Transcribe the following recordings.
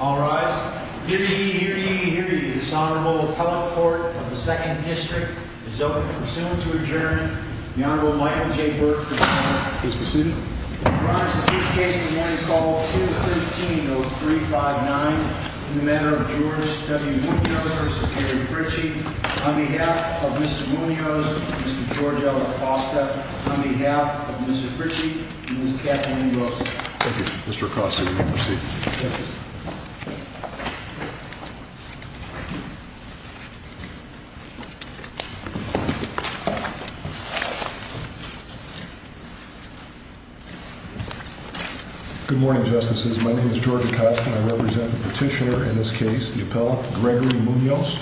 All rise. Hear ye, hear ye, hear ye. This Honorable Appellate Court of the 2nd District is open for assent to adjourn. The Honorable Michael J. Burke is present. Please be seated. I rise to give the case of the morning call 213-0359 in the manner of George W. Munoz v. Gary Pritchett on behalf of Mrs. Munoz, Mr. George Acosta, on behalf of Mrs. Pritchett and Ms. Kathleen Rosa. and Ms. Kathleen Rosa. Thank you. Good morning, Justices. My name is George Acosta. I represent the petitioner in this case, the Appellate, Gregory Munoz.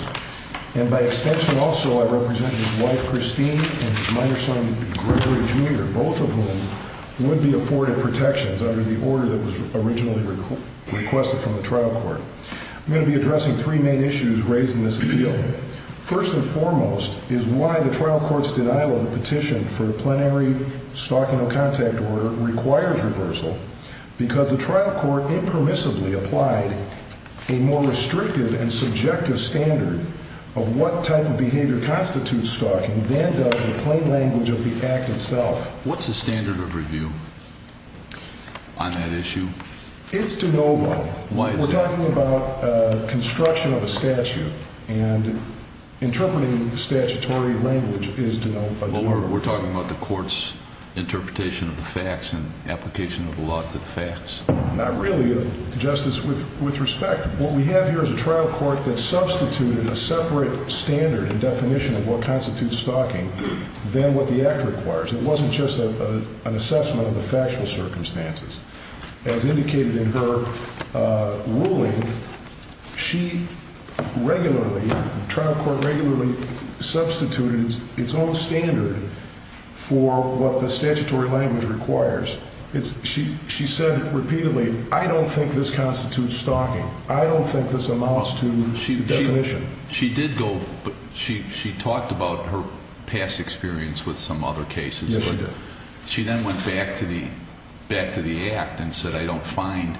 And by extension also, I represent his wife, Christine, and his minor son, Gregory, Jr., both of whom would be afforded protections under the order that was originally required. Gary Pritchett and Ms. Kathleen Rosa. from the trial court. I'm going to be addressing three main issues raised in this appeal. First and foremost is why the trial court's denial of the petition for a plenary stalking or contact order requires reversal, because the trial court impermissibly applied a more restrictive and subjective standard of what type of behavior constitutes stalking than does the plain language of the act itself. What's the standard of review on that issue? It's de novo. Why is that? We're talking about construction of a statute, and interpreting statutory language is de novo. Well, we're talking about the court's interpretation of the facts and application of the law to the facts. Not really, Justice. With respect, what we have here is a trial court that substituted a separate standard and definition of what constitutes stalking than what the act requires. It wasn't just an assessment of the factual circumstances. As indicated in her ruling, she regularly, the trial court regularly substituted its own standard for what the statutory language requires. She said repeatedly, I don't think this constitutes stalking. I don't think this amounts to definition. She did go, she talked about her past experience with some other cases. Yes, she did. She then went back to the act and said, I don't find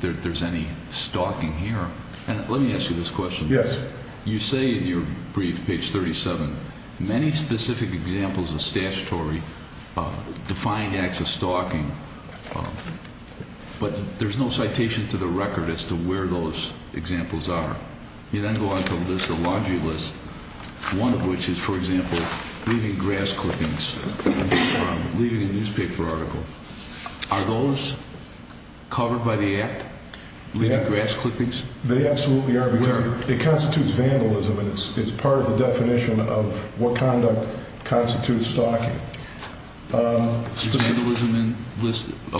that there's any stalking here. Let me ask you this question. Yes. You say in your brief, page 37, many specific examples of statutory defined acts of stalking, but there's no citation to the record as to where those examples are. You then go on to list a laundry list, one of which is, for example, leaving grass clippings from leaving a newspaper article. Are those covered by the act? Leaving grass clippings? They absolutely are. It constitutes vandalism, and it's part of the definition of what conduct constitutes stalking. Is vandalism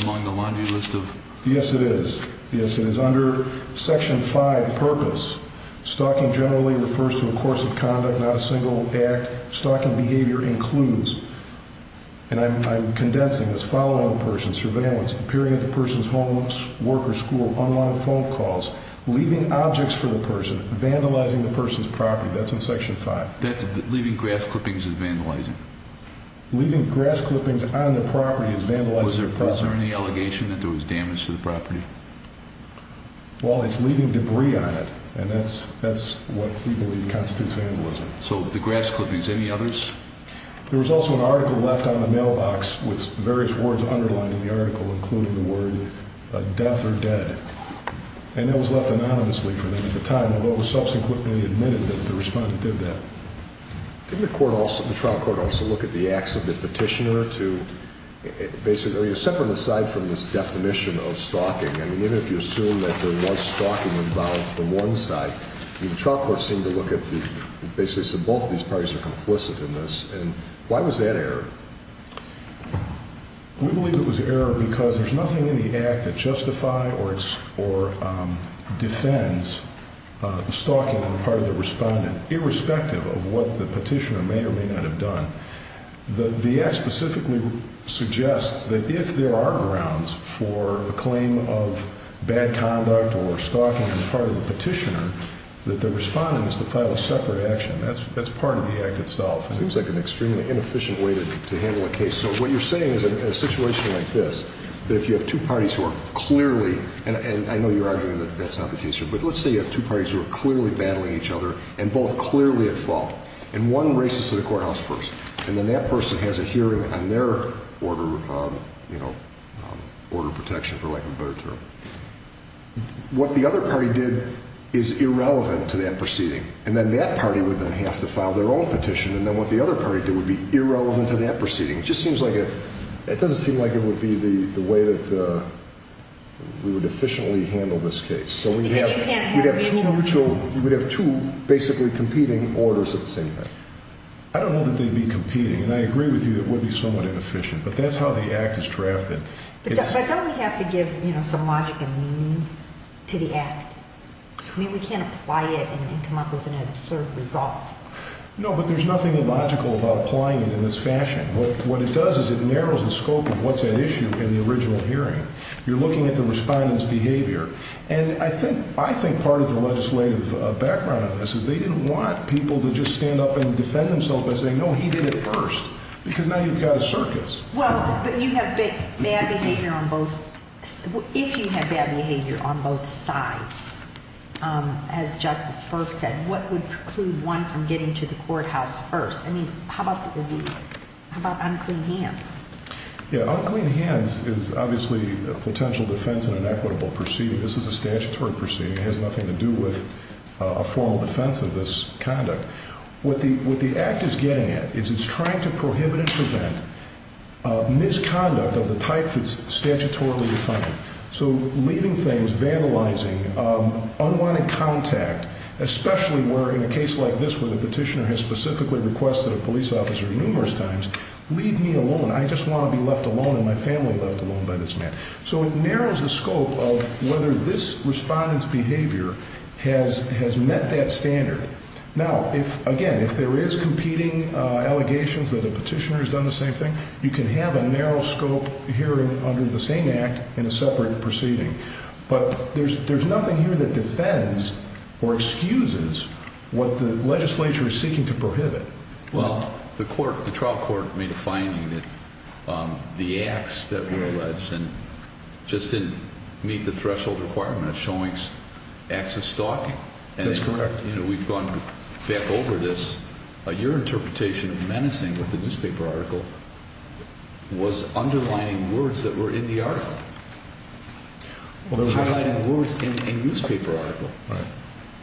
among the laundry list of? Yes, it is. Yes, it is. Under Section 5, Purpose, stalking generally refers to a course of conduct, not a single act. Stalking behavior includes, and I'm condensing this, following a person, surveillance, appearing at the person's home, work, or school, unwanted phone calls, leaving objects for the person, vandalizing the person's property. That's in Section 5. Leaving grass clippings is vandalizing. Leaving grass clippings on the property is vandalizing the property. Is there any allegation that there was damage to the property? Well, it's leaving debris on it, and that's what we believe constitutes vandalism. So the grass clippings, any others? There was also an article left on the mailbox with various words underlined in the article, including the word death or dead. And that was left anonymously for them at the time, although it was subsequently admitted that the respondent did that. Didn't the trial court also look at the acts of the petitioner to basically separate aside from this definition of stalking? I mean, even if you assume that there was stalking involved from one side, I mean, the trial court seemed to look at the basis that both of these parties are complicit in this. And why was that error? We believe it was error because there's nothing in the act that justifies or defends stalking on the part of the respondent, irrespective of what the petitioner may or may not have done. The act specifically suggests that if there are grounds for the claim of bad conduct or stalking on the part of the petitioner, that the respondent is to file a separate action. That's part of the act itself. It seems like an extremely inefficient way to handle a case. So what you're saying is in a situation like this, that if you have two parties who are clearly, and I know you're arguing that that's not the case here, but let's say you have two parties who are clearly battling each other and both clearly at fault, and one races to the courthouse first, and then that person has a hearing on their order of protection, for lack of a better term. What the other party did is irrelevant to that proceeding. And then that party would then have to file their own petition, and then what the other party did would be irrelevant to that proceeding. It just seems like a, it doesn't seem like it would be the way that we would efficiently handle this case. So we'd have two basically competing orders at the same time. I don't know that they'd be competing, and I agree with you that it would be somewhat inefficient, but that's how the act is drafted. But don't we have to give some logic and meaning to the act? I mean, we can't apply it and come up with an absurd result. No, but there's nothing illogical about applying it in this fashion. What it does is it narrows the scope of what's at issue in the original hearing. You're looking at the respondent's behavior. And I think part of the legislative background on this is they didn't want people to just stand up and defend themselves by saying, no, he did it first, because now you've got a circus. Well, but you have bad behavior on both, if you have bad behavior on both sides, as Justice Burke said, what would preclude one from getting to the courthouse first? I mean, how about unclean hands? Yeah, unclean hands is obviously a potential defense in an equitable proceeding. This is a statutory proceeding. It has nothing to do with a formal defense of this conduct. What the act is getting at is it's trying to prohibit and prevent misconduct of the type that's statutorily defined. So leaving things, vandalizing, unwanted contact, especially where in a case like this where the petitioner has specifically requested a police officer numerous times, leave me alone, I just want to be left alone and my family left alone by this man. So it narrows the scope of whether this respondent's behavior has met that standard. Now, again, if there is competing allegations that a petitioner has done the same thing, you can have a narrow scope hearing under the same act in a separate proceeding. But there's nothing here that defends or excuses what the legislature is seeking to prohibit. Well, the court, the trial court, made a finding that the acts that were alleged just didn't meet the threshold requirement of showing acts of stalking. That's correct. You know, we've gone back over this. Your interpretation of menacing with the newspaper article was underlining words that were in the article, highlighting words in a newspaper article.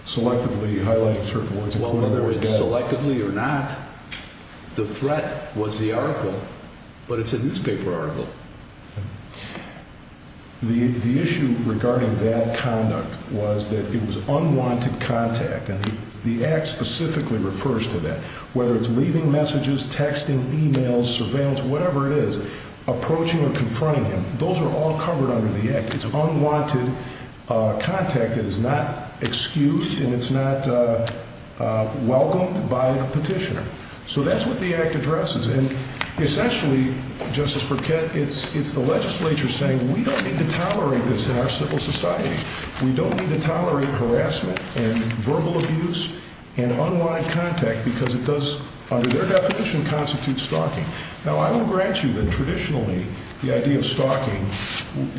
Selectively highlighting certain words. Well, whether it's selectively or not, the threat was the article, but it's a newspaper article. The issue regarding that conduct was that it was unwanted contact, and the act specifically refers to that. Whether it's leaving messages, texting, e-mails, surveillance, whatever it is, approaching or confronting him, those are all covered under the act. It's unwanted contact that is not excused and it's not welcomed by the petitioner. So that's what the act addresses. And essentially, Justice Burkett, it's the legislature saying we don't need to tolerate this in our civil society. We don't need to tolerate harassment and verbal abuse and unwanted contact because it does, under their definition, constitute stalking. Now, I will grant you that traditionally the idea of stalking,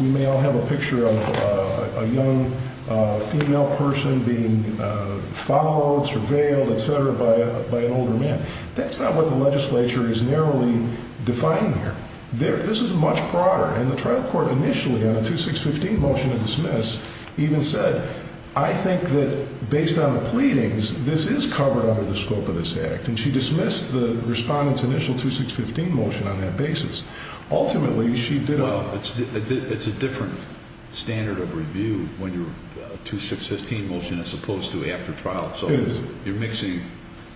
we may all have a picture of a young female person being followed, surveilled, et cetera, by an older man. That's not what the legislature is narrowly defining here. This is much broader, and the trial court initially on a 2615 motion to dismiss even said, I think that based on the pleadings, this is covered under the scope of this act. And she dismissed the respondent's initial 2615 motion on that basis. Ultimately, she did. Well, it's a different standard of review when your 2615 motion is supposed to be after trial. So you're mixing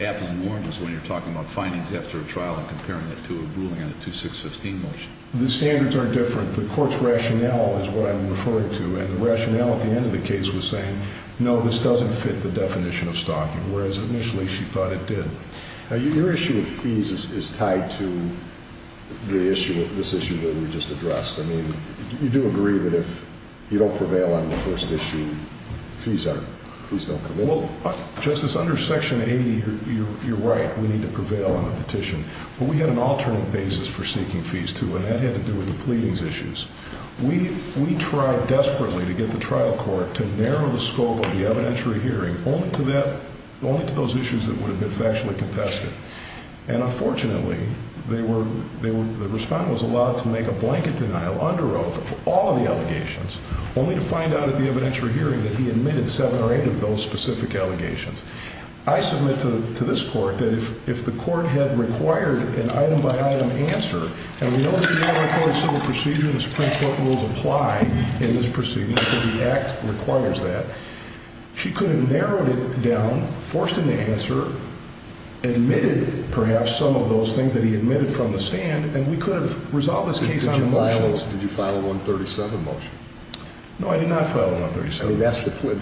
apples and oranges when you're talking about findings after a trial and comparing it to a ruling on a 2615 motion. The standards are different. The court's rationale is what I'm referring to, and the rationale at the end of the case was saying, no, this doesn't fit the definition of stalking, whereas initially she thought it did. Now, your issue with fees is tied to the issue, this issue that we just addressed. I mean, you do agree that if you don't prevail on the first issue, fees don't come in? Well, Justice, under Section 80, you're right. We need to prevail on the petition. But we had an alternate basis for seeking fees, too, and that had to do with the pleadings issues. We tried desperately to get the trial court to narrow the scope of the evidentiary hearing only to those issues that would have been factually contested. And unfortunately, the respondent was allowed to make a blanket denial under oath of all of the allegations, only to find out at the evidentiary hearing that he admitted seven or eight of those specific allegations. I submit to this court that if the court had required an item-by-item answer, and we know that in our court of civil procedure the Supreme Court rules apply in this procedure because the Act requires that, she could have narrowed it down, forced an answer, admitted perhaps some of those things that he admitted from the stand, and we could have resolved this case on the motions. Did you file a 137 motion? No, I did not file a 137.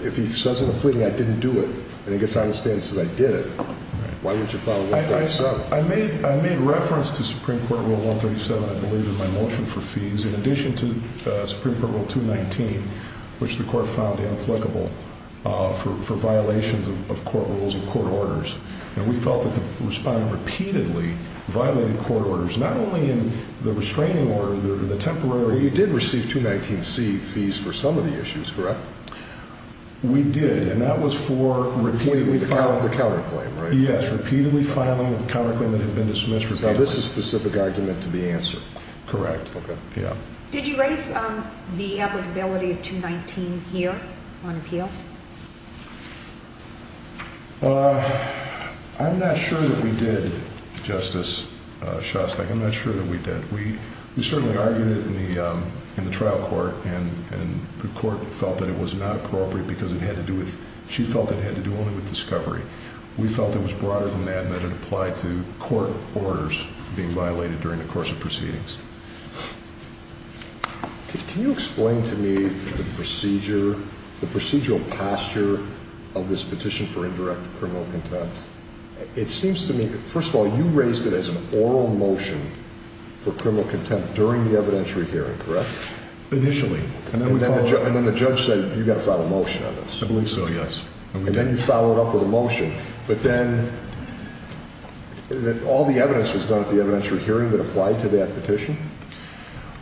If he says in a pleading, I didn't do it, and he gets on the stand and says, I did it, why wouldn't you file a 137? I made reference to Supreme Court Rule 137, I believe, in my motion for fees, in addition to Supreme Court Rule 219, which the court found inapplicable for violations of court rules and court orders. And we felt that the respondent repeatedly violated court orders, not only in the restraining order, the temporary order. We did, and that was for repeatedly filing. Repeatedly filing the counterclaim, right? Yes, repeatedly filing a counterclaim that had been dismissed repeatedly. So this is a specific argument to the answer? Correct. Okay. Did you raise the applicability of 219 here on appeal? I'm not sure that we did, Justice Shostak, I'm not sure that we did. We certainly argued it in the trial court, and the court felt that it was not appropriate because it had to do with, she felt it had to do only with discovery. We felt it was broader than that and that it applied to court orders being violated during the course of proceedings. Can you explain to me the procedural posture of this petition for indirect criminal contempt? It seems to me, first of all, you raised it as an oral motion for criminal contempt during the evidentiary hearing, correct? Initially. And then the judge said, you've got to file a motion on this. I believe so, yes. And then you followed up with a motion. But then, all the evidence was done at the evidentiary hearing that applied to that petition?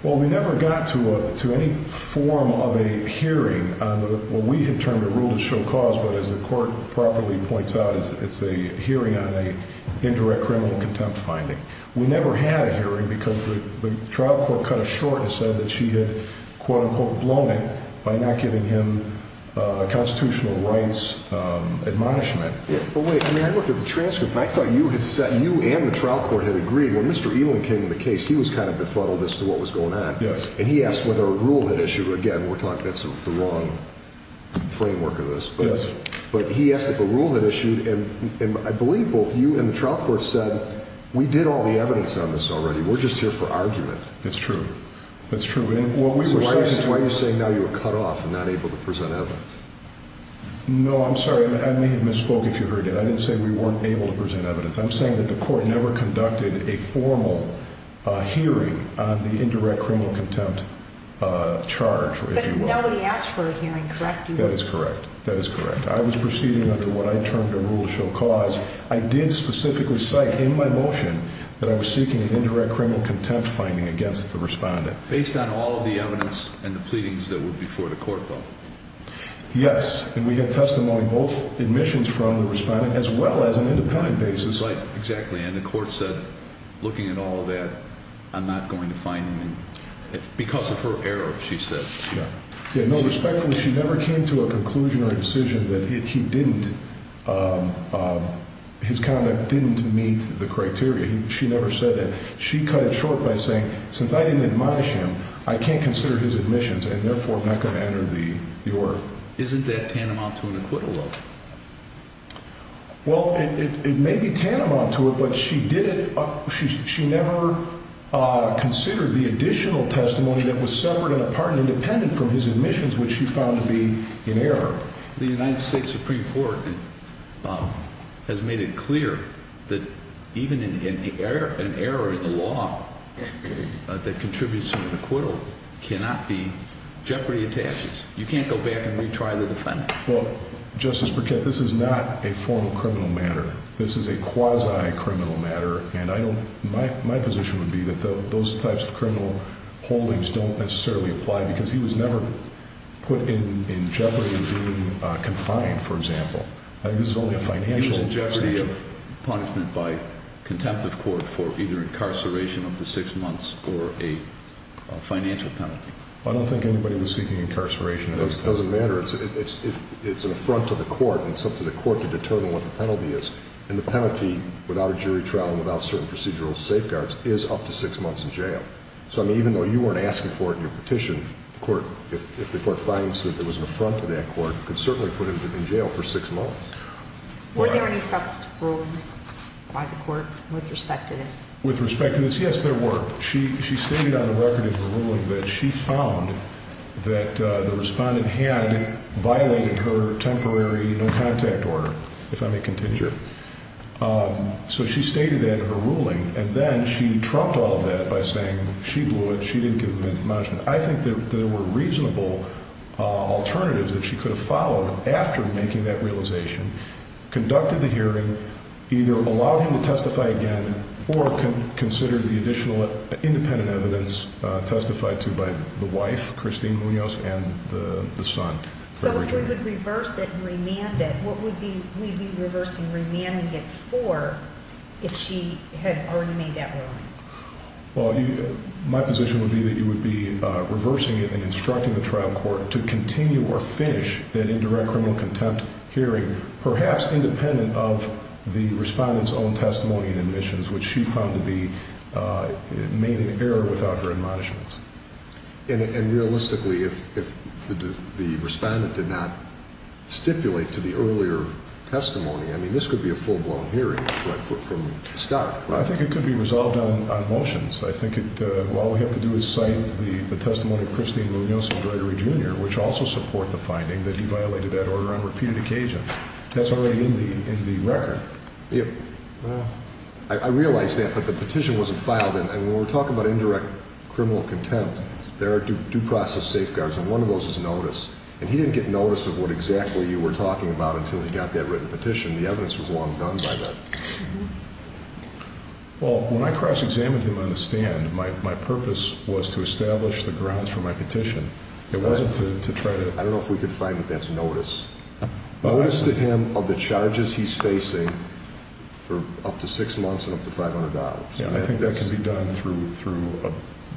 Well, we never got to any form of a hearing. Well, we had termed a rule to show cause, but as the court properly points out, it's a hearing on an indirect criminal contempt finding. We never had a hearing because the trial court cut us short and said that she had, quote-unquote, blown it by not giving him a constitutional rights admonishment. But wait, I mean, I looked at the transcript and I thought you and the trial court had agreed when Mr. Ewing came to the case, he was kind of befuddled as to what was going on. Yes. And he asked whether a rule had issued, again, we're talking, that's the wrong framework of this. Yes. But he asked if a rule had issued, and I believe both you and the trial court said, we did all the evidence on this already. We're just here for argument. That's true. That's true. Why are you saying now you were cut off and not able to present evidence? No, I'm sorry. I may have misspoke if you heard it. I didn't say we weren't able to present evidence. I'm saying that the court never conducted a formal hearing on the indirect criminal contempt charge, if you will. But nobody asked for a hearing, correct? That is correct. That is correct. I was proceeding under what I termed a rule of show cause. I did specifically cite in my motion that I was seeking an indirect criminal contempt finding against the respondent. Based on all of the evidence and the pleadings that were before the court, though? Yes. And we had testimony, both admissions from the respondent as well as an independent basis. Right. Exactly. And the court said, looking at all of that, I'm not going to find him because of her error, she said. Yeah. No, respectfully, she never came to a conclusion or a decision that he didn't, his conduct didn't meet the criteria. She never said that. She cut it short by saying, since I didn't admonish him, I can't consider his admissions and, therefore, I'm not going to enter the order. Isn't that tantamount to an acquittal, though? Well, it may be tantamount to it, but she did it, she never considered the additional testimony that was suffered on the part of an independent from his admissions, which she found to be in error. The United States Supreme Court has made it clear that even an error in the law that contributes to an acquittal cannot be jeopardy of taxes. You can't go back and retry the defendant. Well, Justice Burkett, this is not a formal criminal matter. This is a quasi-criminal matter, and I don't, my position would be that those types of criminal holdings don't necessarily apply because he was never put in jeopardy of being confined, for example. I think this is only a financial penalty. He was in jeopardy of punishment by contempt of court for either incarceration up to six months or a financial penalty. I don't think anybody was seeking incarceration. It doesn't matter. It's an affront to the court, and it's up to the court to determine what the penalty is. And the penalty, without a jury trial and without certain procedural safeguards, is up to six months in jail. So, I mean, even though you weren't asking for it in your petition, if the court finds that it was an affront to that court, you can certainly put him in jail for six months. Were there any such rulings by the court with respect to this? With respect to this, yes, there were. She stated on the record in her ruling that she found that the respondent had violated her temporary no-contact order, if I may contingent. So she stated that in her ruling, and then she trumped all of that by saying she blew it, she didn't give him any punishment. I think that there were reasonable alternatives that she could have followed after making that realization, conducted the hearing, either allowed him to testify again or considered the additional independent evidence testified to by the wife, Christine Munoz, and the son. So if we could reverse it and remand it, what would we be reversing remanding it for if she had already made that ruling? Well, my position would be that you would be reversing it and instructing the trial court to continue or finish that indirect criminal contempt hearing, perhaps independent of the respondent's own testimony and admissions, which she found to be made in error without her admonishments. And realistically, if the respondent did not stipulate to the earlier testimony, I mean, this could be a full-blown hearing from the start, right? I think it could be resolved on motions. I think that all we have to do is cite the testimony of Christine Munoz and Gregory Jr., which also support the finding that he violated that order on repeated occasions. That's already in the record. I realize that, but the petition wasn't filed. And when we're talking about indirect criminal contempt, there are due process safeguards, and one of those is notice. And he didn't get notice of what exactly you were talking about until he got that written petition. The evidence was long done by then. Well, when I cross-examined him on the stand, my purpose was to establish the grounds for my petition. It wasn't to try to – I don't know if we could find what that's notice. Notice to him of the charges he's facing for up to six months and up to $500. I think that can be done through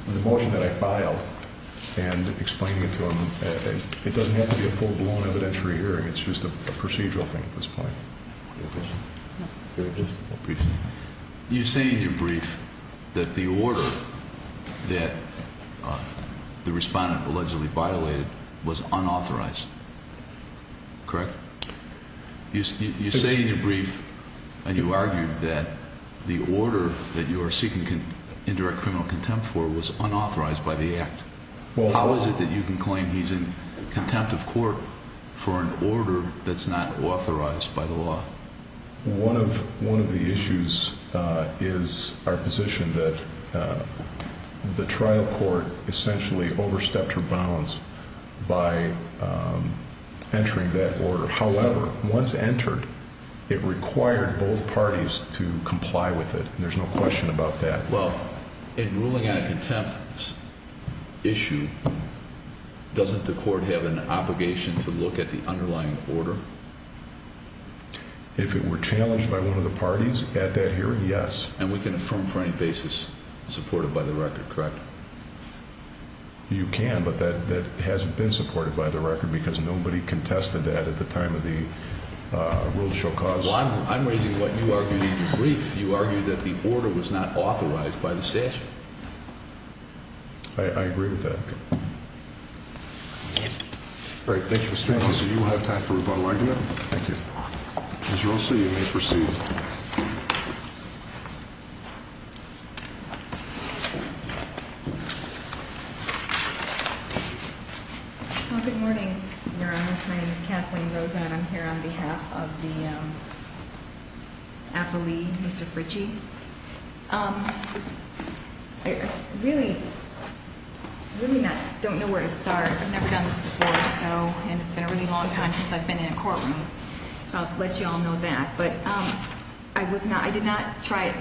the motion that I filed and explaining it to him. It doesn't have to be a full-blown evidentiary hearing. It's just a procedural thing at this point. You say in your brief that the order that the respondent allegedly violated was unauthorized. Correct? You say in your brief, and you argued, that the order that you are seeking indirect criminal contempt for was unauthorized by the act. How is it that you can claim he's in contempt of court for an order that's not authorized by the law? One of the issues is our position that the trial court essentially overstepped her bounds by entering that order. However, once entered, it required both parties to comply with it. There's no question about that. Well, in ruling on a contempt issue, doesn't the court have an obligation to look at the underlying order? If it were challenged by one of the parties at that hearing, yes. And we can affirm for any basis supported by the record, correct? You can, but that hasn't been supported by the record because nobody contested that at the time of the World Show cause. Well, I'm raising what you argued in your brief. You argued that the order was not authorized by the statute. I agree with that. All right, thank you, Mr. Anderson. You have time for one more argument. Thank you. As you all see, you may proceed. Good morning, Your Honor. My name is Kathleen Rosa, and I'm here on behalf of the appellee, Mr. Fritchie. I really, really don't know where to start. I've never done this before or so, and it's been a really long time since I've been in a courtroom. So I'll let you all know that. But I did not try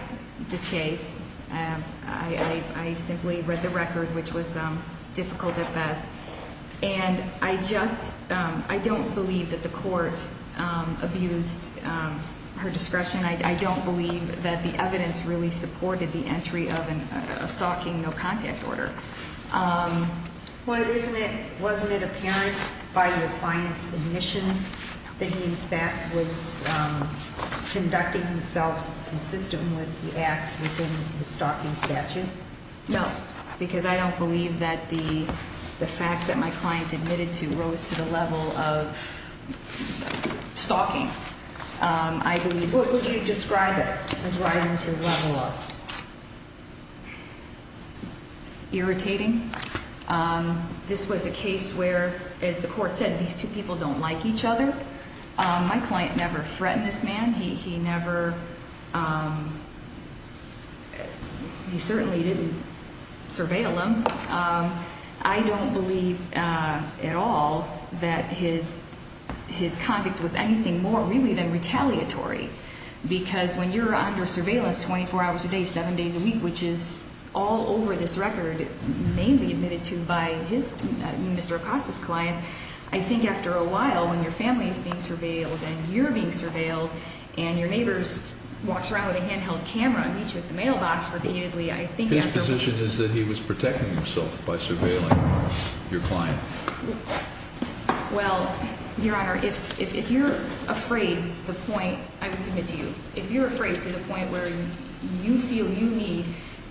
this case. I simply read the record, which was difficult at best. And I don't believe that the court abused her discretion. I don't believe that the evidence really supported the entry of a stalking no-contact order. Wasn't it apparent by your client's admissions that he, in fact, was conducting himself consistent with the acts within the stalking statute? No, because I don't believe that the facts that my client admitted to rose to the level of stalking. What would you describe it as rising to the level of? Irritating. This was a case where, as the court said, these two people don't like each other. My client never threatened this man. He never – he certainly didn't surveil him. I don't believe at all that his conduct was anything more, really, than retaliatory, because when you're under surveillance 24 hours a day, seven days a week, which is all over this record, mainly admitted to by his – Mr. Acosta's clients, I think after a while, when your family is being surveilled and you're being surveilled and your neighbor walks around with a handheld camera and meets you at the mailbox repeatedly, I think after a while – His position is that he was protecting himself by surveilling your client. Well, Your Honor, if you're afraid to the point – I would submit to you – if you're afraid to the point where you feel you need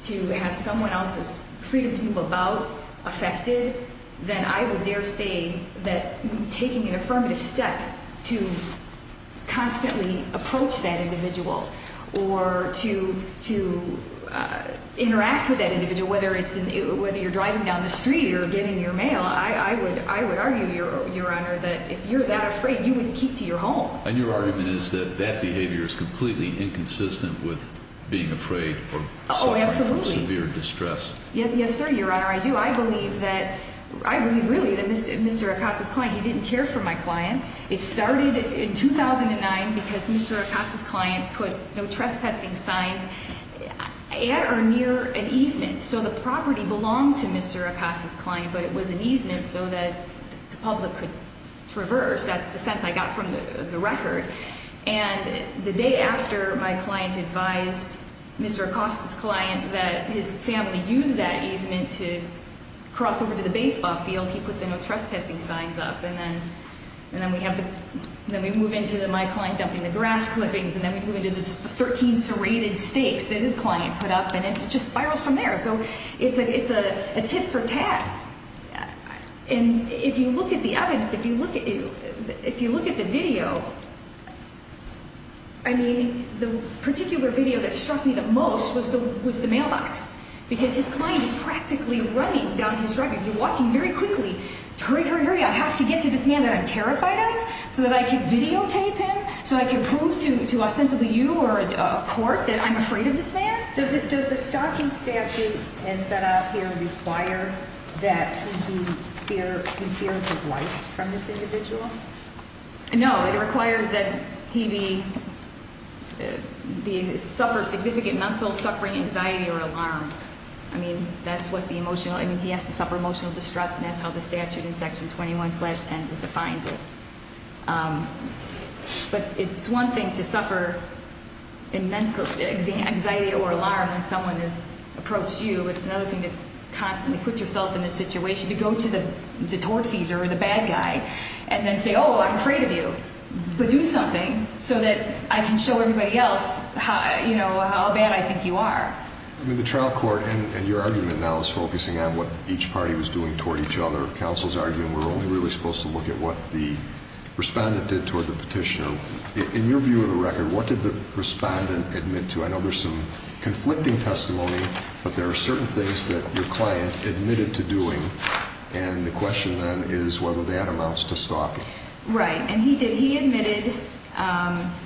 to have someone else's freedom to move about affected, then I would dare say that taking an affirmative step to constantly approach that individual or to interact with that individual, whether you're driving down the street or getting your mail, I would argue, Your Honor, that if you're that afraid, you wouldn't keep to your home. And your argument is that that behavior is completely inconsistent with being afraid or suffering from severe distress. Oh, absolutely. Yes, sir, Your Honor, I do. I believe that – I believe, really, that Mr. Acosta's client – he didn't care for my client. It started in 2009 because Mr. Acosta's client put no trespassing signs at or near an easement. So the property belonged to Mr. Acosta's client, but it was an easement so that the public could traverse. That's the sense I got from the record. And the day after my client advised Mr. Acosta's client that his family use that easement to cross over to the baseball field, he put the no trespassing signs up. And then we have the – then we move into my client dumping the grass clippings, and then we move into the 13 serrated stakes that his client put up, and it just spirals from there. So it's a tit for tat. And if you look at the evidence, if you look at the video, I mean, the particular video that struck me the most was the mailbox because his client is practically running down his driveway. He's walking very quickly. Hurry, hurry, hurry. I have to get to this man that I'm terrified of so that I can videotape him, so I can prove to ostensibly you or a court that I'm afraid of this man. Does the stalking statute as set out here require that he be – he fear his life from this individual? No. It requires that he be – suffer significant mental suffering, anxiety, or alarm. I mean, that's what the emotional – I mean, he has to suffer emotional distress, and that's how the statute in Section 21-10 defines it. But it's one thing to suffer immense anxiety or alarm when someone has approached you. It's another thing to constantly put yourself in a situation, to go to the tortfeasor or the bad guy, and then say, oh, I'm afraid of you, but do something so that I can show everybody else how bad I think you are. I mean, the trial court and your argument now is focusing on what each party was doing toward each other. Counsel's argument, we're only really supposed to look at what the respondent did toward the petitioner. In your view of the record, what did the respondent admit to? I know there's some conflicting testimony, but there are certain things that your client admitted to doing, and the question then is whether that amounts to stalking. Right, and he did. He admitted –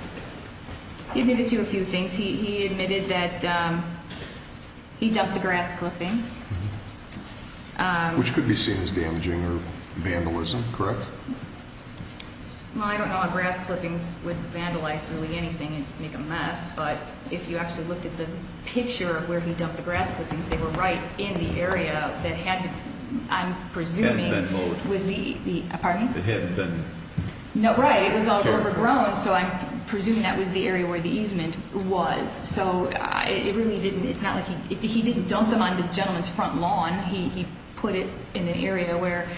he admitted to a few things. He admitted that he dumped the grass clippings. Which could be seen as damaging or vandalism, correct? Well, I don't know how grass clippings would vandalize really anything and just make a mess, but if you actually looked at the picture of where he dumped the grass clippings, they were right in the area that had to, I'm presuming, was the – It hadn't been mowed. Pardon me? It hadn't been – No, right, it was all overgrown, so I'm presuming that was the area where the easement was. So it really didn't – it's not like he – he didn't dump them on the gentleman's front lawn. He put it in an area where,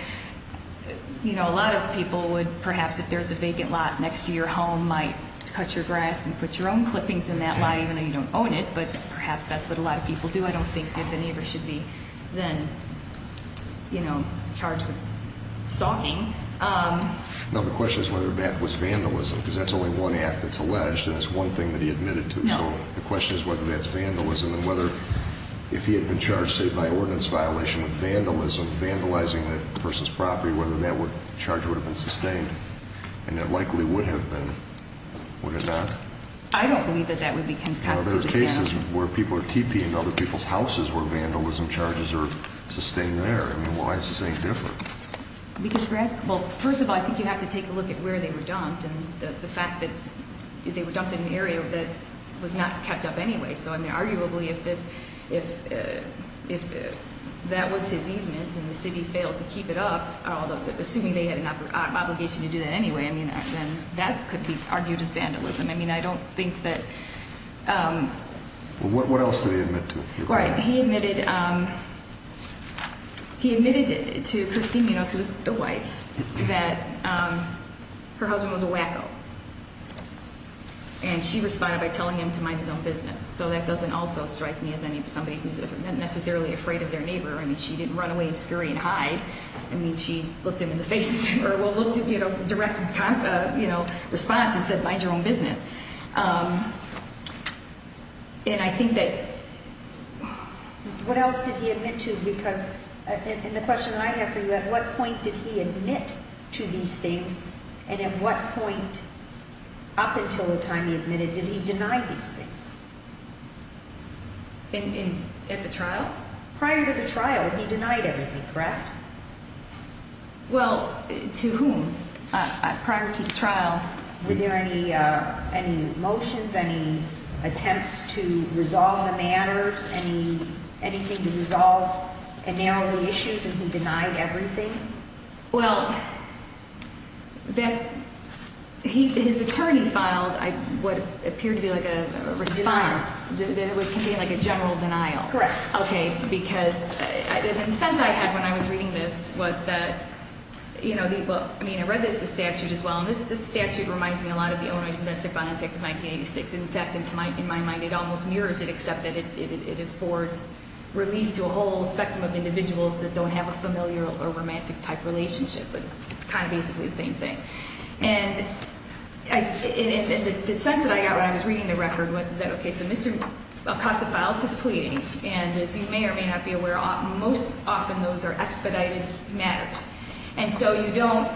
you know, a lot of people would perhaps, if there's a vacant lot next to your home, might cut your grass and put your own clippings in that lot, even though you don't own it, but perhaps that's what a lot of people do. I don't think that the neighbor should be then, you know, charged with stalking. No, the question is whether that was vandalism, because that's only one act that's alleged, and that's one thing that he admitted to. No. So the question is whether that's vandalism and whether if he had been charged, say, by ordinance violation with vandalism, vandalizing that person's property, whether that charge would have been sustained, and it likely would have been, would it not? I don't believe that that would be constitutional. Now, there are cases where people are TPing other people's houses where vandalism charges are sustained there. I mean, why is this any different? Because grass – well, first of all, I think you have to take a look at where they were dumped and the fact that they were dumped in an area that was not kept up anyway. So, I mean, arguably if that was his easement and the city failed to keep it up, although assuming they had an obligation to do that anyway, I mean, then that could be argued as vandalism. I mean, I don't think that – What else did he admit to? All right, he admitted to Christine Minos, who was the wife, that her husband was a wacko, and she responded by telling him to mind his own business. So that doesn't also strike me as somebody who's necessarily afraid of their neighbor. I mean, she didn't run away and scurry and hide. I mean, she looked him in the face or, well, looked, you know, directed a response and said, mind your own business. And I think that – What else did he admit to? Because in the question I have for you, at what point did he admit to these things and at what point up until the time he admitted, did he deny these things? At the trial? Prior to the trial, he denied everything, correct? Well, to whom? Prior to the trial. Were there any motions, any attempts to resolve the matters, anything to resolve and narrow the issues, and he denied everything? Well, his attorney filed what appeared to be like a response. It was contained like a general denial. Correct. Okay, because the sense I had when I was reading this was that, you know, I mean, I read the statute as well, and this statute reminds me a lot of the Illinois domestic violence act of 1986. In fact, in my mind, it almost mirrors it, except that it affords relief to a whole spectrum of individuals that don't have a familial or romantic-type relationship. It's kind of basically the same thing. And the sense that I got when I was reading the record was that, okay, so Mr. Acosta-Files is pleading, and as you may or may not be aware, most often those are expedited matters. And so you don't,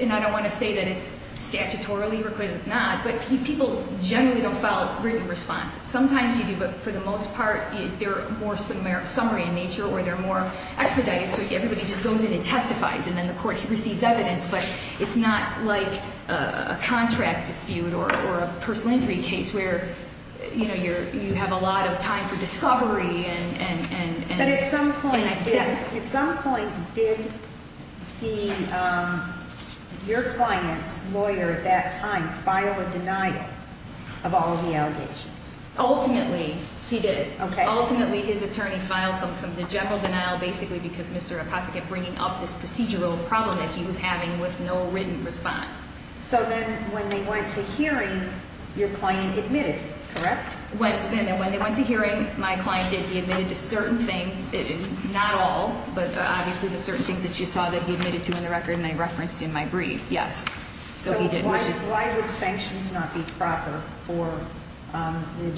and I don't want to say that it's statutorily requisite, it's not, but people generally don't file written responses. Sometimes you do, but for the most part, they're more summary in nature or they're more expedited, so everybody just goes in and testifies, and then the court receives evidence. But it's not like a contract dispute or a personal injury case where, you know, you have a lot of time for discovery. But at some point, did your client's lawyer at that time file a denial of all the allegations? Ultimately, he did. Ultimately, his attorney filed something, a general denial, basically because Mr. Acosta kept bringing up this procedural problem that he was having with no written response. So then when they went to hearing, your client admitted, correct? When they went to hearing, my client did. He admitted to certain things, not all, but obviously the certain things that you saw that he admitted to in the record and I referenced in my brief, yes. So he did. Why would sanctions not be proper for your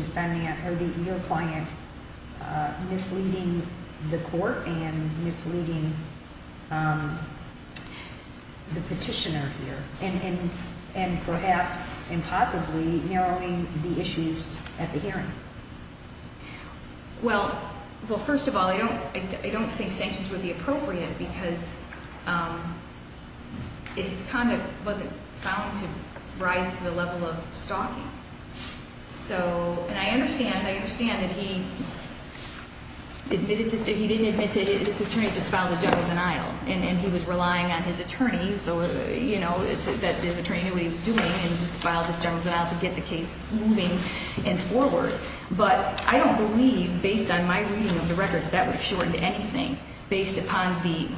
client misleading the court and misleading the petitioner here, and perhaps and possibly narrowing the issues at the hearing? Well, first of all, I don't think sanctions would be appropriate because his conduct wasn't found to rise to the level of stalking. And I understand that he didn't admit to it. His attorney just filed a general denial, and he was relying on his attorney, so, you know, that his attorney knew what he was doing and just filed this general denial to get the case moving and forward. But I don't believe, based on my reading of the record, that that would have shortened anything, based upon the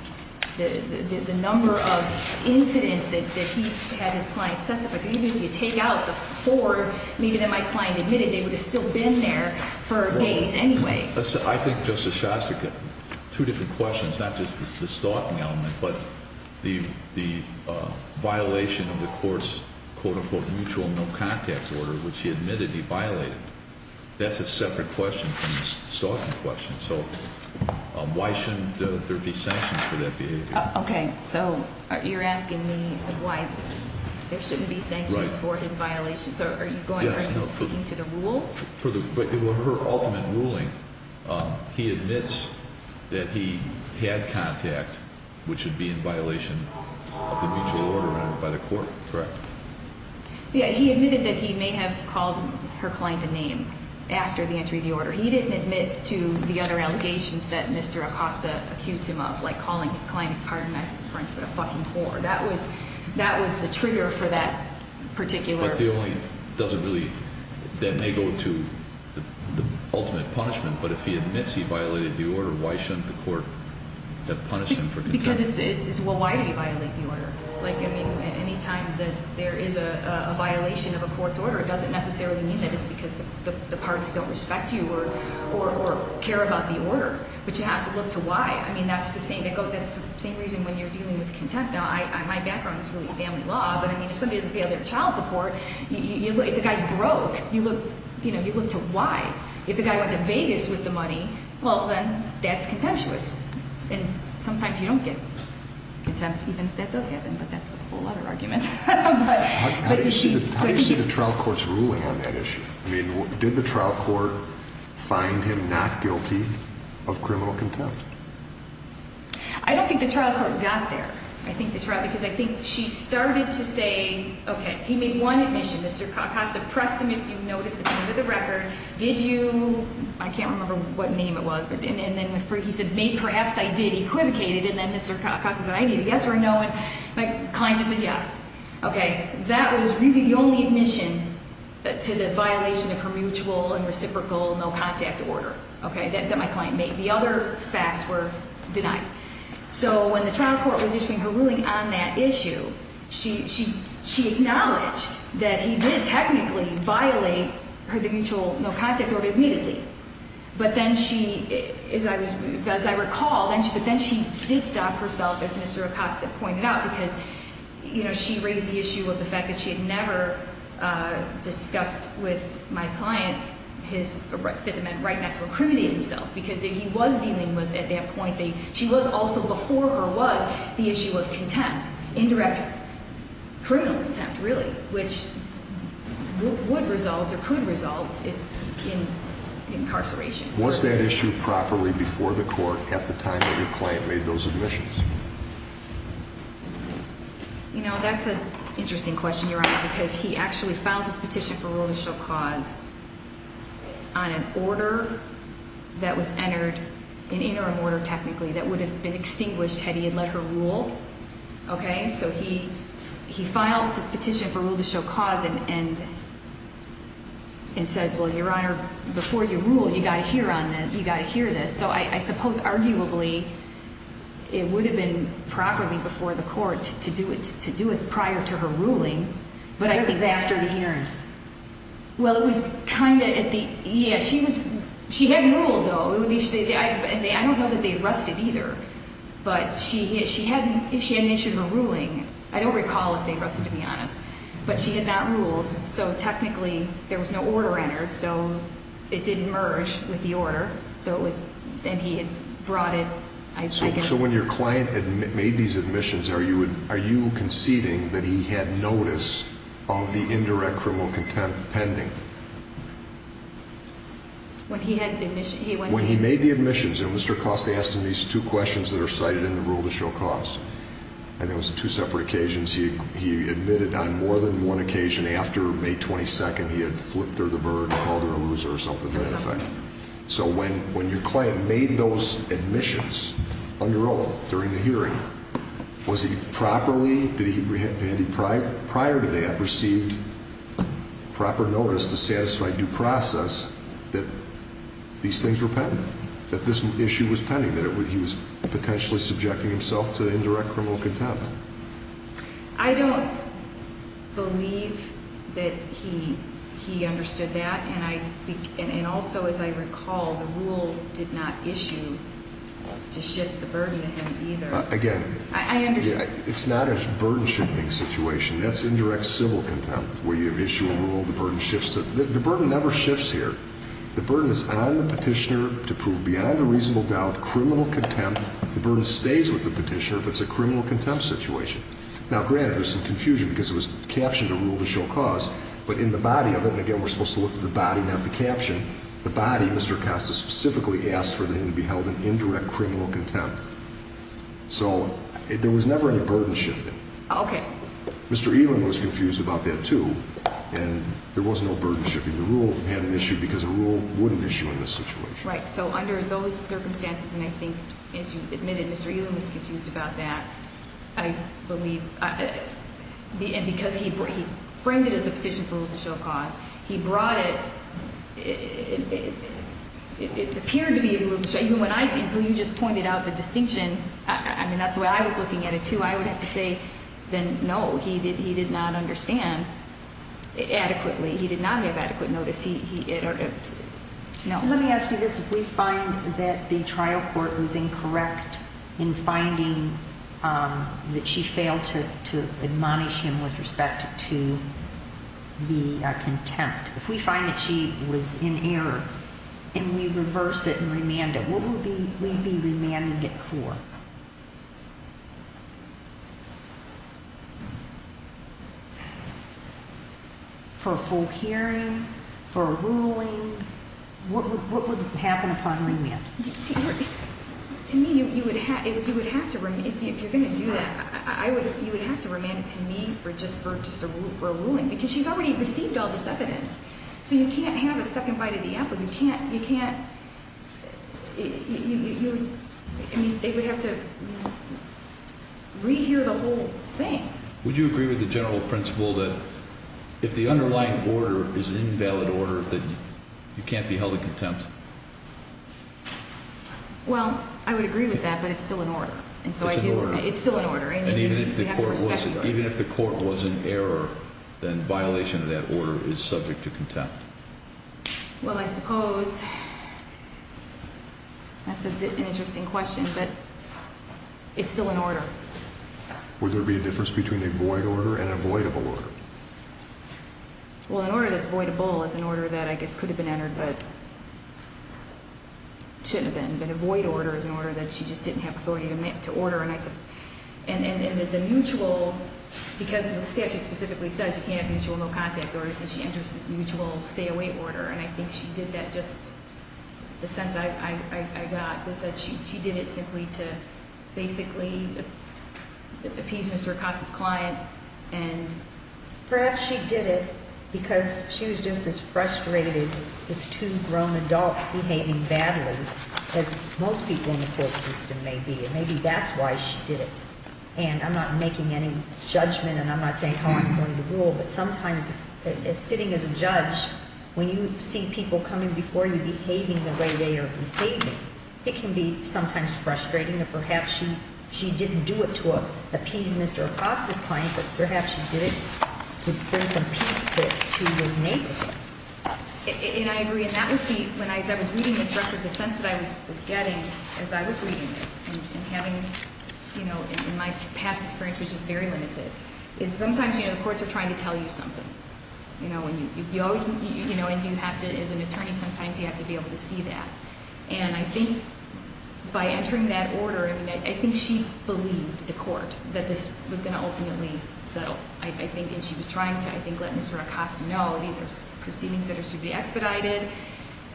number of incidents that he had his clients testify to. Even if you take out the four, even if my client admitted, they would have still been there for days anyway. I think, Justice Shastrick, two different questions, not just the stalking element but the violation of the court's quote-unquote mutual no-contact order, which he admitted he violated. That's a separate question from the stalking question. So why shouldn't there be sanctions for that behavior? Okay, so you're asking me why there shouldn't be sanctions for his violations? Are you speaking to the rule? Well, for her ultimate ruling, he admits that he had contact, which would be in violation of the mutual order by the court, correct? Yeah, he admitted that he may have called her client a name after the entry of the order. He didn't admit to the other allegations that Mr. Acosta accused him of, like calling his client, pardon my French, a fucking whore. That was the trigger for that particular. That may go to the ultimate punishment, but if he admits he violated the order, why shouldn't the court have punished him for contempt? Because it's, well, why did he violate the order? It's like, I mean, any time that there is a violation of a court's order, it doesn't necessarily mean that it's because the parties don't respect you or care about the order, but you have to look to why. I mean, that's the same reason when you're dealing with contempt. My background is family law, but, I mean, if somebody doesn't pay their child support, if the guy's broke, you look to why. If the guy went to Vegas with the money, well, then that's contemptuous. And sometimes you don't get contempt even if that does happen, but that's a whole other argument. How do you see the trial court's ruling on that issue? I mean, did the trial court find him not guilty of criminal contempt? I don't think the trial court got there. I think the trial, because I think she started to say, okay, he made one admission. Mr. Acosta pressed him, if you noticed, at the end of the record. Did you, I can't remember what name it was, and then he said, maybe perhaps I did equivocate it, and then Mr. Acosta said, I need a yes or a no, and my client just said yes. That was really the only admission to the violation of her mutual and reciprocal no-contact order that my client made. The other facts were denied. So when the trial court was issuing her ruling on that issue, she acknowledged that he did technically violate her mutual no-contact order immediately. But then she, as I recall, but then she did stop herself, as Mr. Acosta pointed out, because, you know, she raised the issue of the fact that she had never discussed with my client his Fifth Amendment right not to incriminate himself, because he was dealing with, at that point, she was also, before her was, the issue of contempt, indirect criminal contempt, really, which would result or could result in incarceration. Was that issue properly before the court at the time that your client made those admissions? You know, that's an interesting question, Your Honor, because he actually filed his petition for rule to show cause on an order that was entered, an interim order, technically, that would have been extinguished had he had let her rule. Okay? So he files his petition for rule to show cause and says, well, Your Honor, before you rule, you've got to hear this. So I suppose, arguably, it would have been properly before the court to do it prior to her ruling. It was after the hearing. Well, it was kind of at the, yeah, she was, she had ruled, though. I don't know that they rusted either, but she had, if she had an issue of a ruling, I don't recall if they rusted, to be honest, but she had not ruled, so technically there was no order entered, so it didn't merge with the order. So it was, and he had brought it, I guess. So when your client made these admissions, are you conceding that he had notice of the indirect criminal contempt pending? When he had, he went. When he made the admissions, and Mr. Cost asked him these two questions that are cited in the rule to show cause, and it was two separate occasions. He admitted on more than one occasion. After May 22nd, he had flipped her the bird and called her a loser or something to that effect. So when your client made those admissions under oath during the hearing, was he properly, did he, did he prior to that receive proper notice to satisfy due process that these things were pending, that this issue was pending, that he was potentially subjecting himself to indirect criminal contempt? I don't believe that he understood that, and I, and also as I recall, the rule did not issue to shift the burden to him either. Again. I understand. It's not a burden shifting situation. That's indirect civil contempt where you issue a rule, the burden shifts to, the burden never shifts here. The burden is on the petitioner to prove beyond a reasonable doubt criminal contempt. The burden stays with the petitioner if it's a criminal contempt situation. Now, granted, there's some confusion because it was captioned a rule to show cause, but in the body of it, and again, we're supposed to look to the body, not the caption, the body, Mr. Costa, specifically asked for them to be held in indirect criminal contempt. So there was never any burden shifting. Okay. Mr. Elam was confused about that too, and there was no burden shifting. The rule had an issue because a rule wouldn't issue in this situation. Right. So under those circumstances, and I think, as you admitted, Mr. Elam was confused about that, I believe, and because he framed it as a petition for rule to show cause, he brought it, it appeared to be a rule to show, even when I, until you just pointed out the distinction, I mean, that's the way I was looking at it too, I would have to say then no, he did not understand adequately. He did not have adequate notice. Let me ask you this. If we find that the trial court was incorrect in finding that she failed to admonish him with respect to the contempt, if we find that she was in error and we reverse it and remand it, what would we be remanding it for? For a full hearing? For a ruling? What would happen upon remand? To me, you would have to remand it to me just for a ruling because she's already received all this evidence. So you can't have a second bite of the apple. You can't, I mean, they would have to rehear the whole thing. Would you agree with the general principle that if the underlying order is an invalid order that you can't be held in contempt? Well, I would agree with that, but it's still an order. It's an order. It's still an order. And even if the court was in error, then violation of that order is subject to contempt. Well, I suppose that's an interesting question, but it's still an order. Would there be a difference between a void order and a voidable order? Well, an order that's voidable is an order that I guess could have been entered but shouldn't have been. But a void order is an order that she just didn't have authority to order. And the mutual, because the statute specifically says you can't have mutual no-contact orders, and she enters this mutual stay-away order, and I think she did that just the sense that I got, is that she did it simply to basically appease Mr. Acosta's client. And perhaps she did it because she was just as frustrated with two grown adults behaving badly as most people in the court system may be. And maybe that's why she did it. And I'm not making any judgment, and I'm not saying how I'm going to rule, but sometimes sitting as a judge, when you see people coming before you behaving the way they are behaving, it can be sometimes frustrating that perhaps she didn't do it to appease Mr. Acosta's client, but perhaps she did it to bring some peace to his neighborhood. And I agree. And that was the, when I was reading this record, the sense that I was getting as I was reading it, and having, you know, in my past experience, which is very limited, is sometimes, you know, the courts are trying to tell you something. You know, and you always, you know, and you have to, as an attorney, sometimes you have to be able to see that. And I think by entering that order, I mean, I think she believed the court that this was going to ultimately settle. I think, and she was trying to, I think, let Mr. Acosta know these are proceedings that are to be expedited.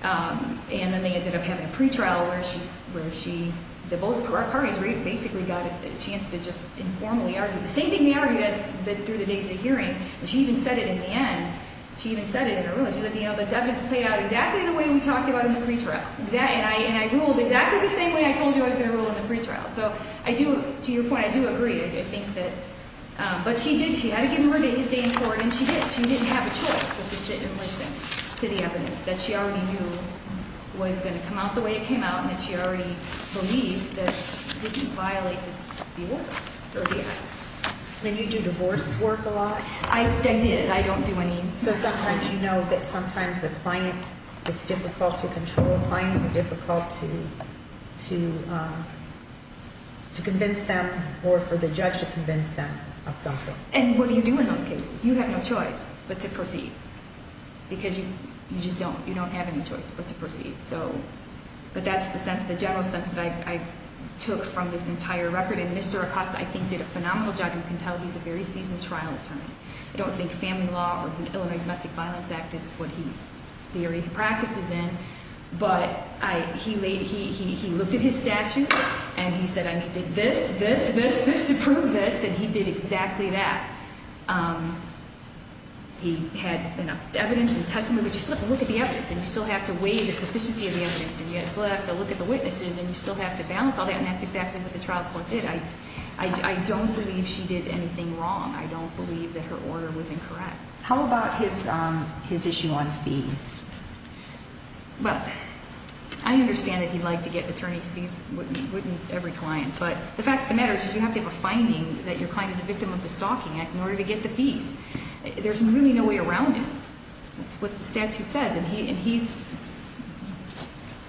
And then they ended up having a pretrial where she, where she, the both parties basically got a chance to just informally argue. The same thing they argued through the days of the hearing, and she even said it in the end. She even said it in her ruling. She said, you know, the evidence played out exactly the way we talked about in the pretrial. And I ruled exactly the same way I told you I was going to rule in the pretrial. So I do, to your point, I do agree. I think that, but she did, she had to give more days, days for it, and she did. She didn't have a choice but to sit and listen to the evidence that she already knew was going to come out the way it came out and that she already believed that it didn't violate the work or the act. And you do divorce work a lot? I did. I don't do any. So sometimes you know that sometimes a client, it's difficult to control a client, or difficult to convince them or for the judge to convince them of something. And what do you do in those cases? You have no choice but to proceed because you just don't, you don't have any choice but to proceed. So, but that's the sense, the general sense that I took from this entire record. And Mr. Acosta, I think, did a phenomenal job. You can tell he's a very seasoned trial attorney. I don't think family law or the Illinois Domestic Violence Act is what he, the area he practices in. But he looked at his statute and he said, I need this, this, this, this to prove this. And he did exactly that. He had enough evidence and testimony, but you still have to look at the evidence and you still have to weigh the sufficiency of the evidence and you still have to look at the witnesses and you still have to balance all that. And that's exactly what the trial court did. I don't believe she did anything wrong. I don't believe that her order was incorrect. How about his issue on fees? Well, I understand that he'd like to get attorney's fees, wouldn't every client, but the fact of the matter is you have to have a finding that your client is a victim of the Stalking Act in order to get the fees. There's really no way around it. That's what the statute says. And he's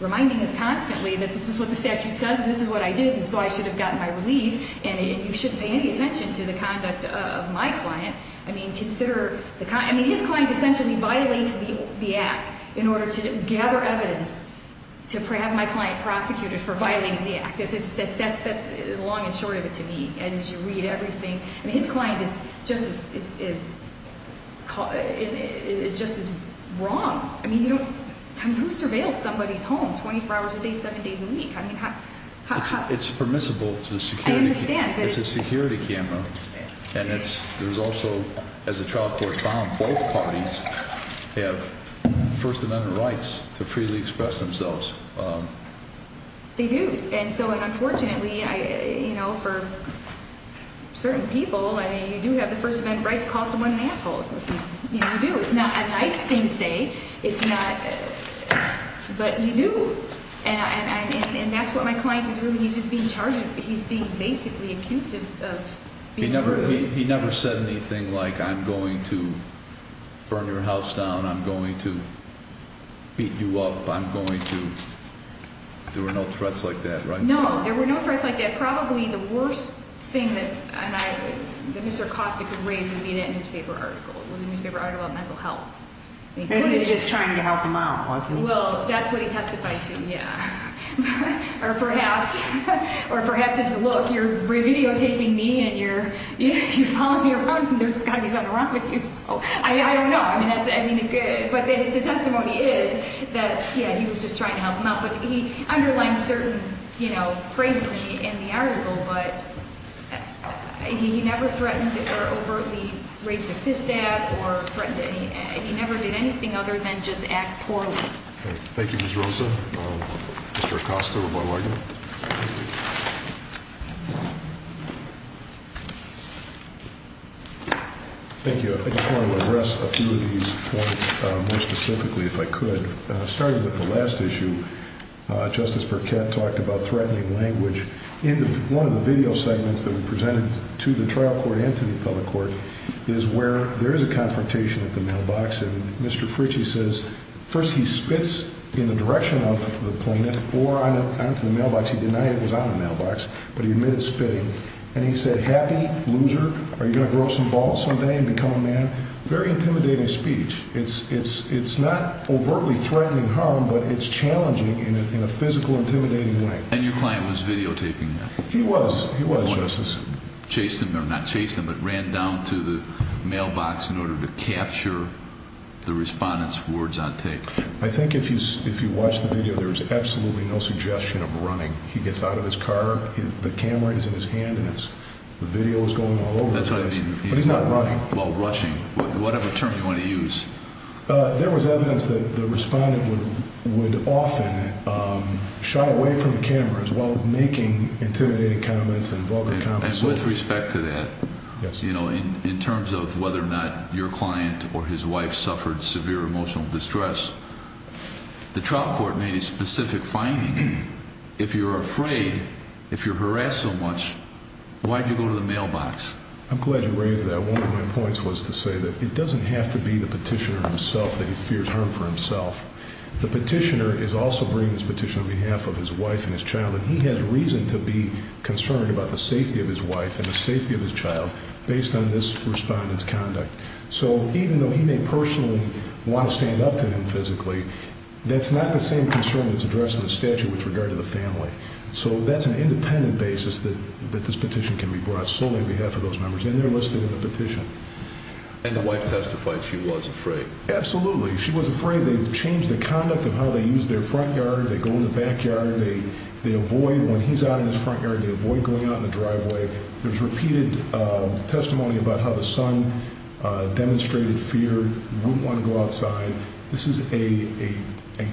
reminding us constantly that this is what the statute says and this is what I did and so I should have gotten my relief and you shouldn't pay any attention to the conduct of my client. I mean, his client essentially violates the Act in order to gather evidence to have my client prosecuted for violating the Act. That's the long and short of it to me. And you read everything. I mean, his client is just as wrong. I mean, who surveils somebody's home 24 hours a day, 7 days a week? I mean, how? It's permissible to the security. I understand. It's a security camera. And there's also, as the trial court found, both parties have First Amendment rights to freely express themselves. They do. And so unfortunately, you know, for certain people, I mean, you do have the First Amendment rights to call someone an asshole. You do. It's not a nice thing to say. It's not, but you do. And that's what my client is really, he's just being charged with. He's being basically accused of being rude. He never said anything like, I'm going to burn your house down, I'm going to beat you up, I'm going to. There were no threats like that, right? No, there were no threats like that. Probably the worst thing that Mr. Acosta could raise would be that newspaper article. It was a newspaper article about mental health. And he was just trying to help them out, wasn't he? Well, that's what he testified to, yeah. Or perhaps, or perhaps it's, look, you're videotaping me and you're following me around and there's something wrong with you. So I don't know. I mean, but the testimony is that, yeah, he was just trying to help them out. But he underlined certain, you know, phrases in the article, but he never threatened or overtly raised a fist at or threatened anything. He never did anything other than just act poorly. Thank you, Ms. Rosa. Mr. Acosta, what do I get? Thank you. I just want to address a few of these points more specifically, if I could. Starting with the last issue, Justice Burkett talked about threatening language. In one of the video segments that we presented to the trial court and to the public court is where there is a confrontation at the mailbox. And Mr. Fritchie says, first he spits in the direction of the plaintiff or onto the mailbox. He denied it was on the mailbox, but he admitted spitting. And he said, happy loser, are you going to grow some balls someday and become a man? Very intimidating speech. It's not overtly threatening harm, but it's challenging in a physical, intimidating way. And your client was videotaping that. He was. He was, Justice. Chased him, or not chased him, but ran down to the mailbox in order to capture the respondent's words on tape. I think if you watch the video, there is absolutely no suggestion of running. He gets out of his car, the camera is in his hand, and the video is going all over the place. That's what I mean. But he's not running. Well, rushing, whatever term you want to use. There was evidence that the respondent would often shy away from the cameras while making intimidating comments and vulgar comments. And with respect to that, you know, in terms of whether or not your client or his wife suffered severe emotional distress, the trial court made a specific finding. If you're afraid, if you're harassed so much, why did you go to the mailbox? I'm glad you raised that. One of my points was to say that it doesn't have to be the petitioner himself that he fears harm for himself. The petitioner is also bringing this petition on behalf of his wife and his child, and he has reason to be concerned about the safety of his wife and the safety of his child based on this respondent's conduct. So even though he may personally want to stand up to him physically, that's not the same concern that's addressed in the statute with regard to the family. So that's an independent basis that this petition can be brought solely on behalf of those members. And they're listed in the petition. And the wife testified she was afraid. Absolutely. She was afraid. They changed the conduct of how they use their front yard. They go in the back yard. They avoid when he's out in his front yard, they avoid going out in the driveway. There's repeated testimony about how the son demonstrated fear, wouldn't want to go outside. This is a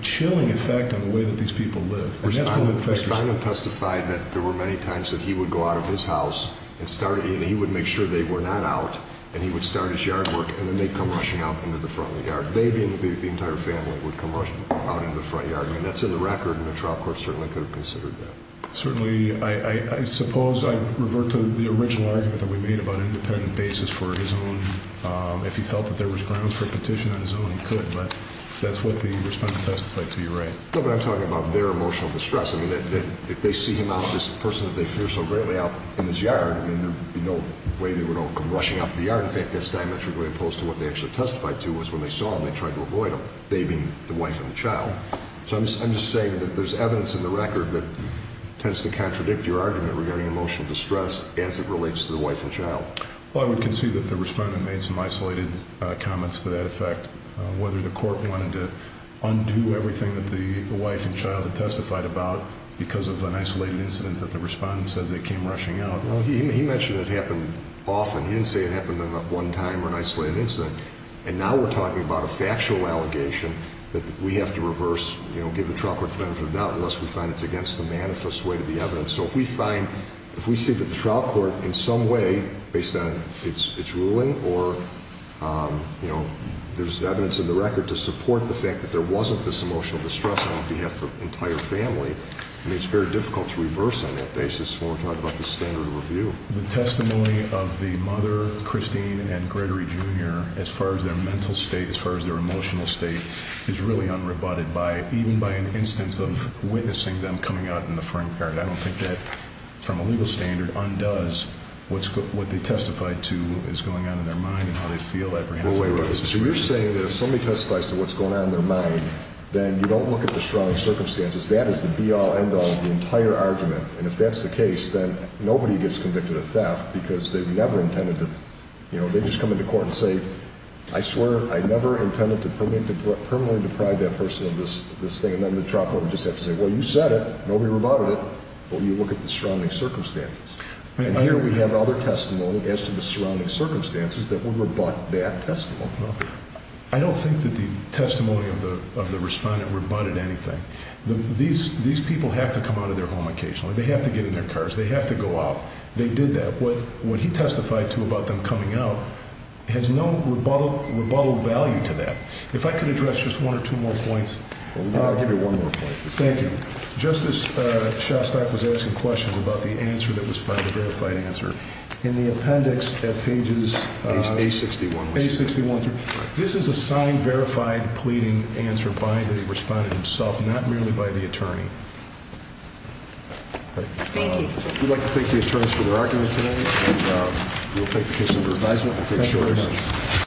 chilling effect on the way that these people live. Respondent testified that there were many times that he would go out of his house and he would make sure they were not out, and he would start his yard work, and then they'd come rushing out into the front yard. They, the entire family, would come rushing out into the front yard. And that's in the record, and the trial court certainly could have considered that. Certainly. I suppose I revert to the original argument that we made about an independent basis for his own. If he felt that there was grounds for a petition on his own, he could. But that's what the respondent testified to. You're right. No, but I'm talking about their emotional distress. I mean, if they see him out, this person that they fear so greatly out in his yard, I mean, there would be no way they would all come rushing out to the yard. In fact, that's diametrically opposed to what they actually testified to was when they saw him, they tried to avoid him, they being the wife and the child. So I'm just saying that there's evidence in the record that tends to contradict your argument regarding emotional distress as it relates to the wife and child. Well, I would concede that the respondent made some isolated comments to that effect, whether the court wanted to undo everything that the wife and child had testified about because of an isolated incident that the respondent said they came rushing out. Well, he mentioned it happened often. He didn't say it happened in one time or an isolated incident. And now we're talking about a factual allegation that we have to reverse, you know, give the trial court the benefit of the doubt unless we find it's against the manifest weight of the evidence. So if we find, if we see that the trial court in some way, based on its ruling or, you know, there's evidence in the record to support the fact that there wasn't this emotional distress on behalf of the entire family, I mean, it's very difficult to reverse on that basis when we're talking about the standard review. The testimony of the mother, Christine, and Gregory Jr., as far as their mental state, as far as their emotional state, is really unrebutted by, even by an instance of witnessing them coming out in the front yard. I don't think that, from a legal standard, undoes what they testified to is going on in their mind and how they feel apprehensive. Well, wait a minute. So you're saying that if somebody testifies to what's going on in their mind, then you don't look at the strong circumstances. That is the be-all, end-all of the entire argument. And if that's the case, then nobody gets convicted of theft because they never intended to, you know, they just come into court and say, I swear I never intended to permanently deprive that person of this thing. And then the trial court would just have to say, well, you said it, nobody rebutted it, but you look at the surrounding circumstances. And here we have other testimony as to the surrounding circumstances that would rebut that testimony. I don't think that the testimony of the respondent rebutted anything. These people have to come out of their home occasionally. They have to get in their cars. They have to go out. They did that. What he testified to about them coming out has no rebuttal value to that. If I could address just one or two more points. I'll give you one more point. Thank you. Justice Shostak was asking questions about the answer that was found, the verified answer. In the appendix at pages- A61. A61. This is a signed, verified, pleading answer by the respondent himself, not merely by the attorney. Thank you. We'd like to thank the attorneys for their argument today, and we'll take the case under advisement. Thank you very much.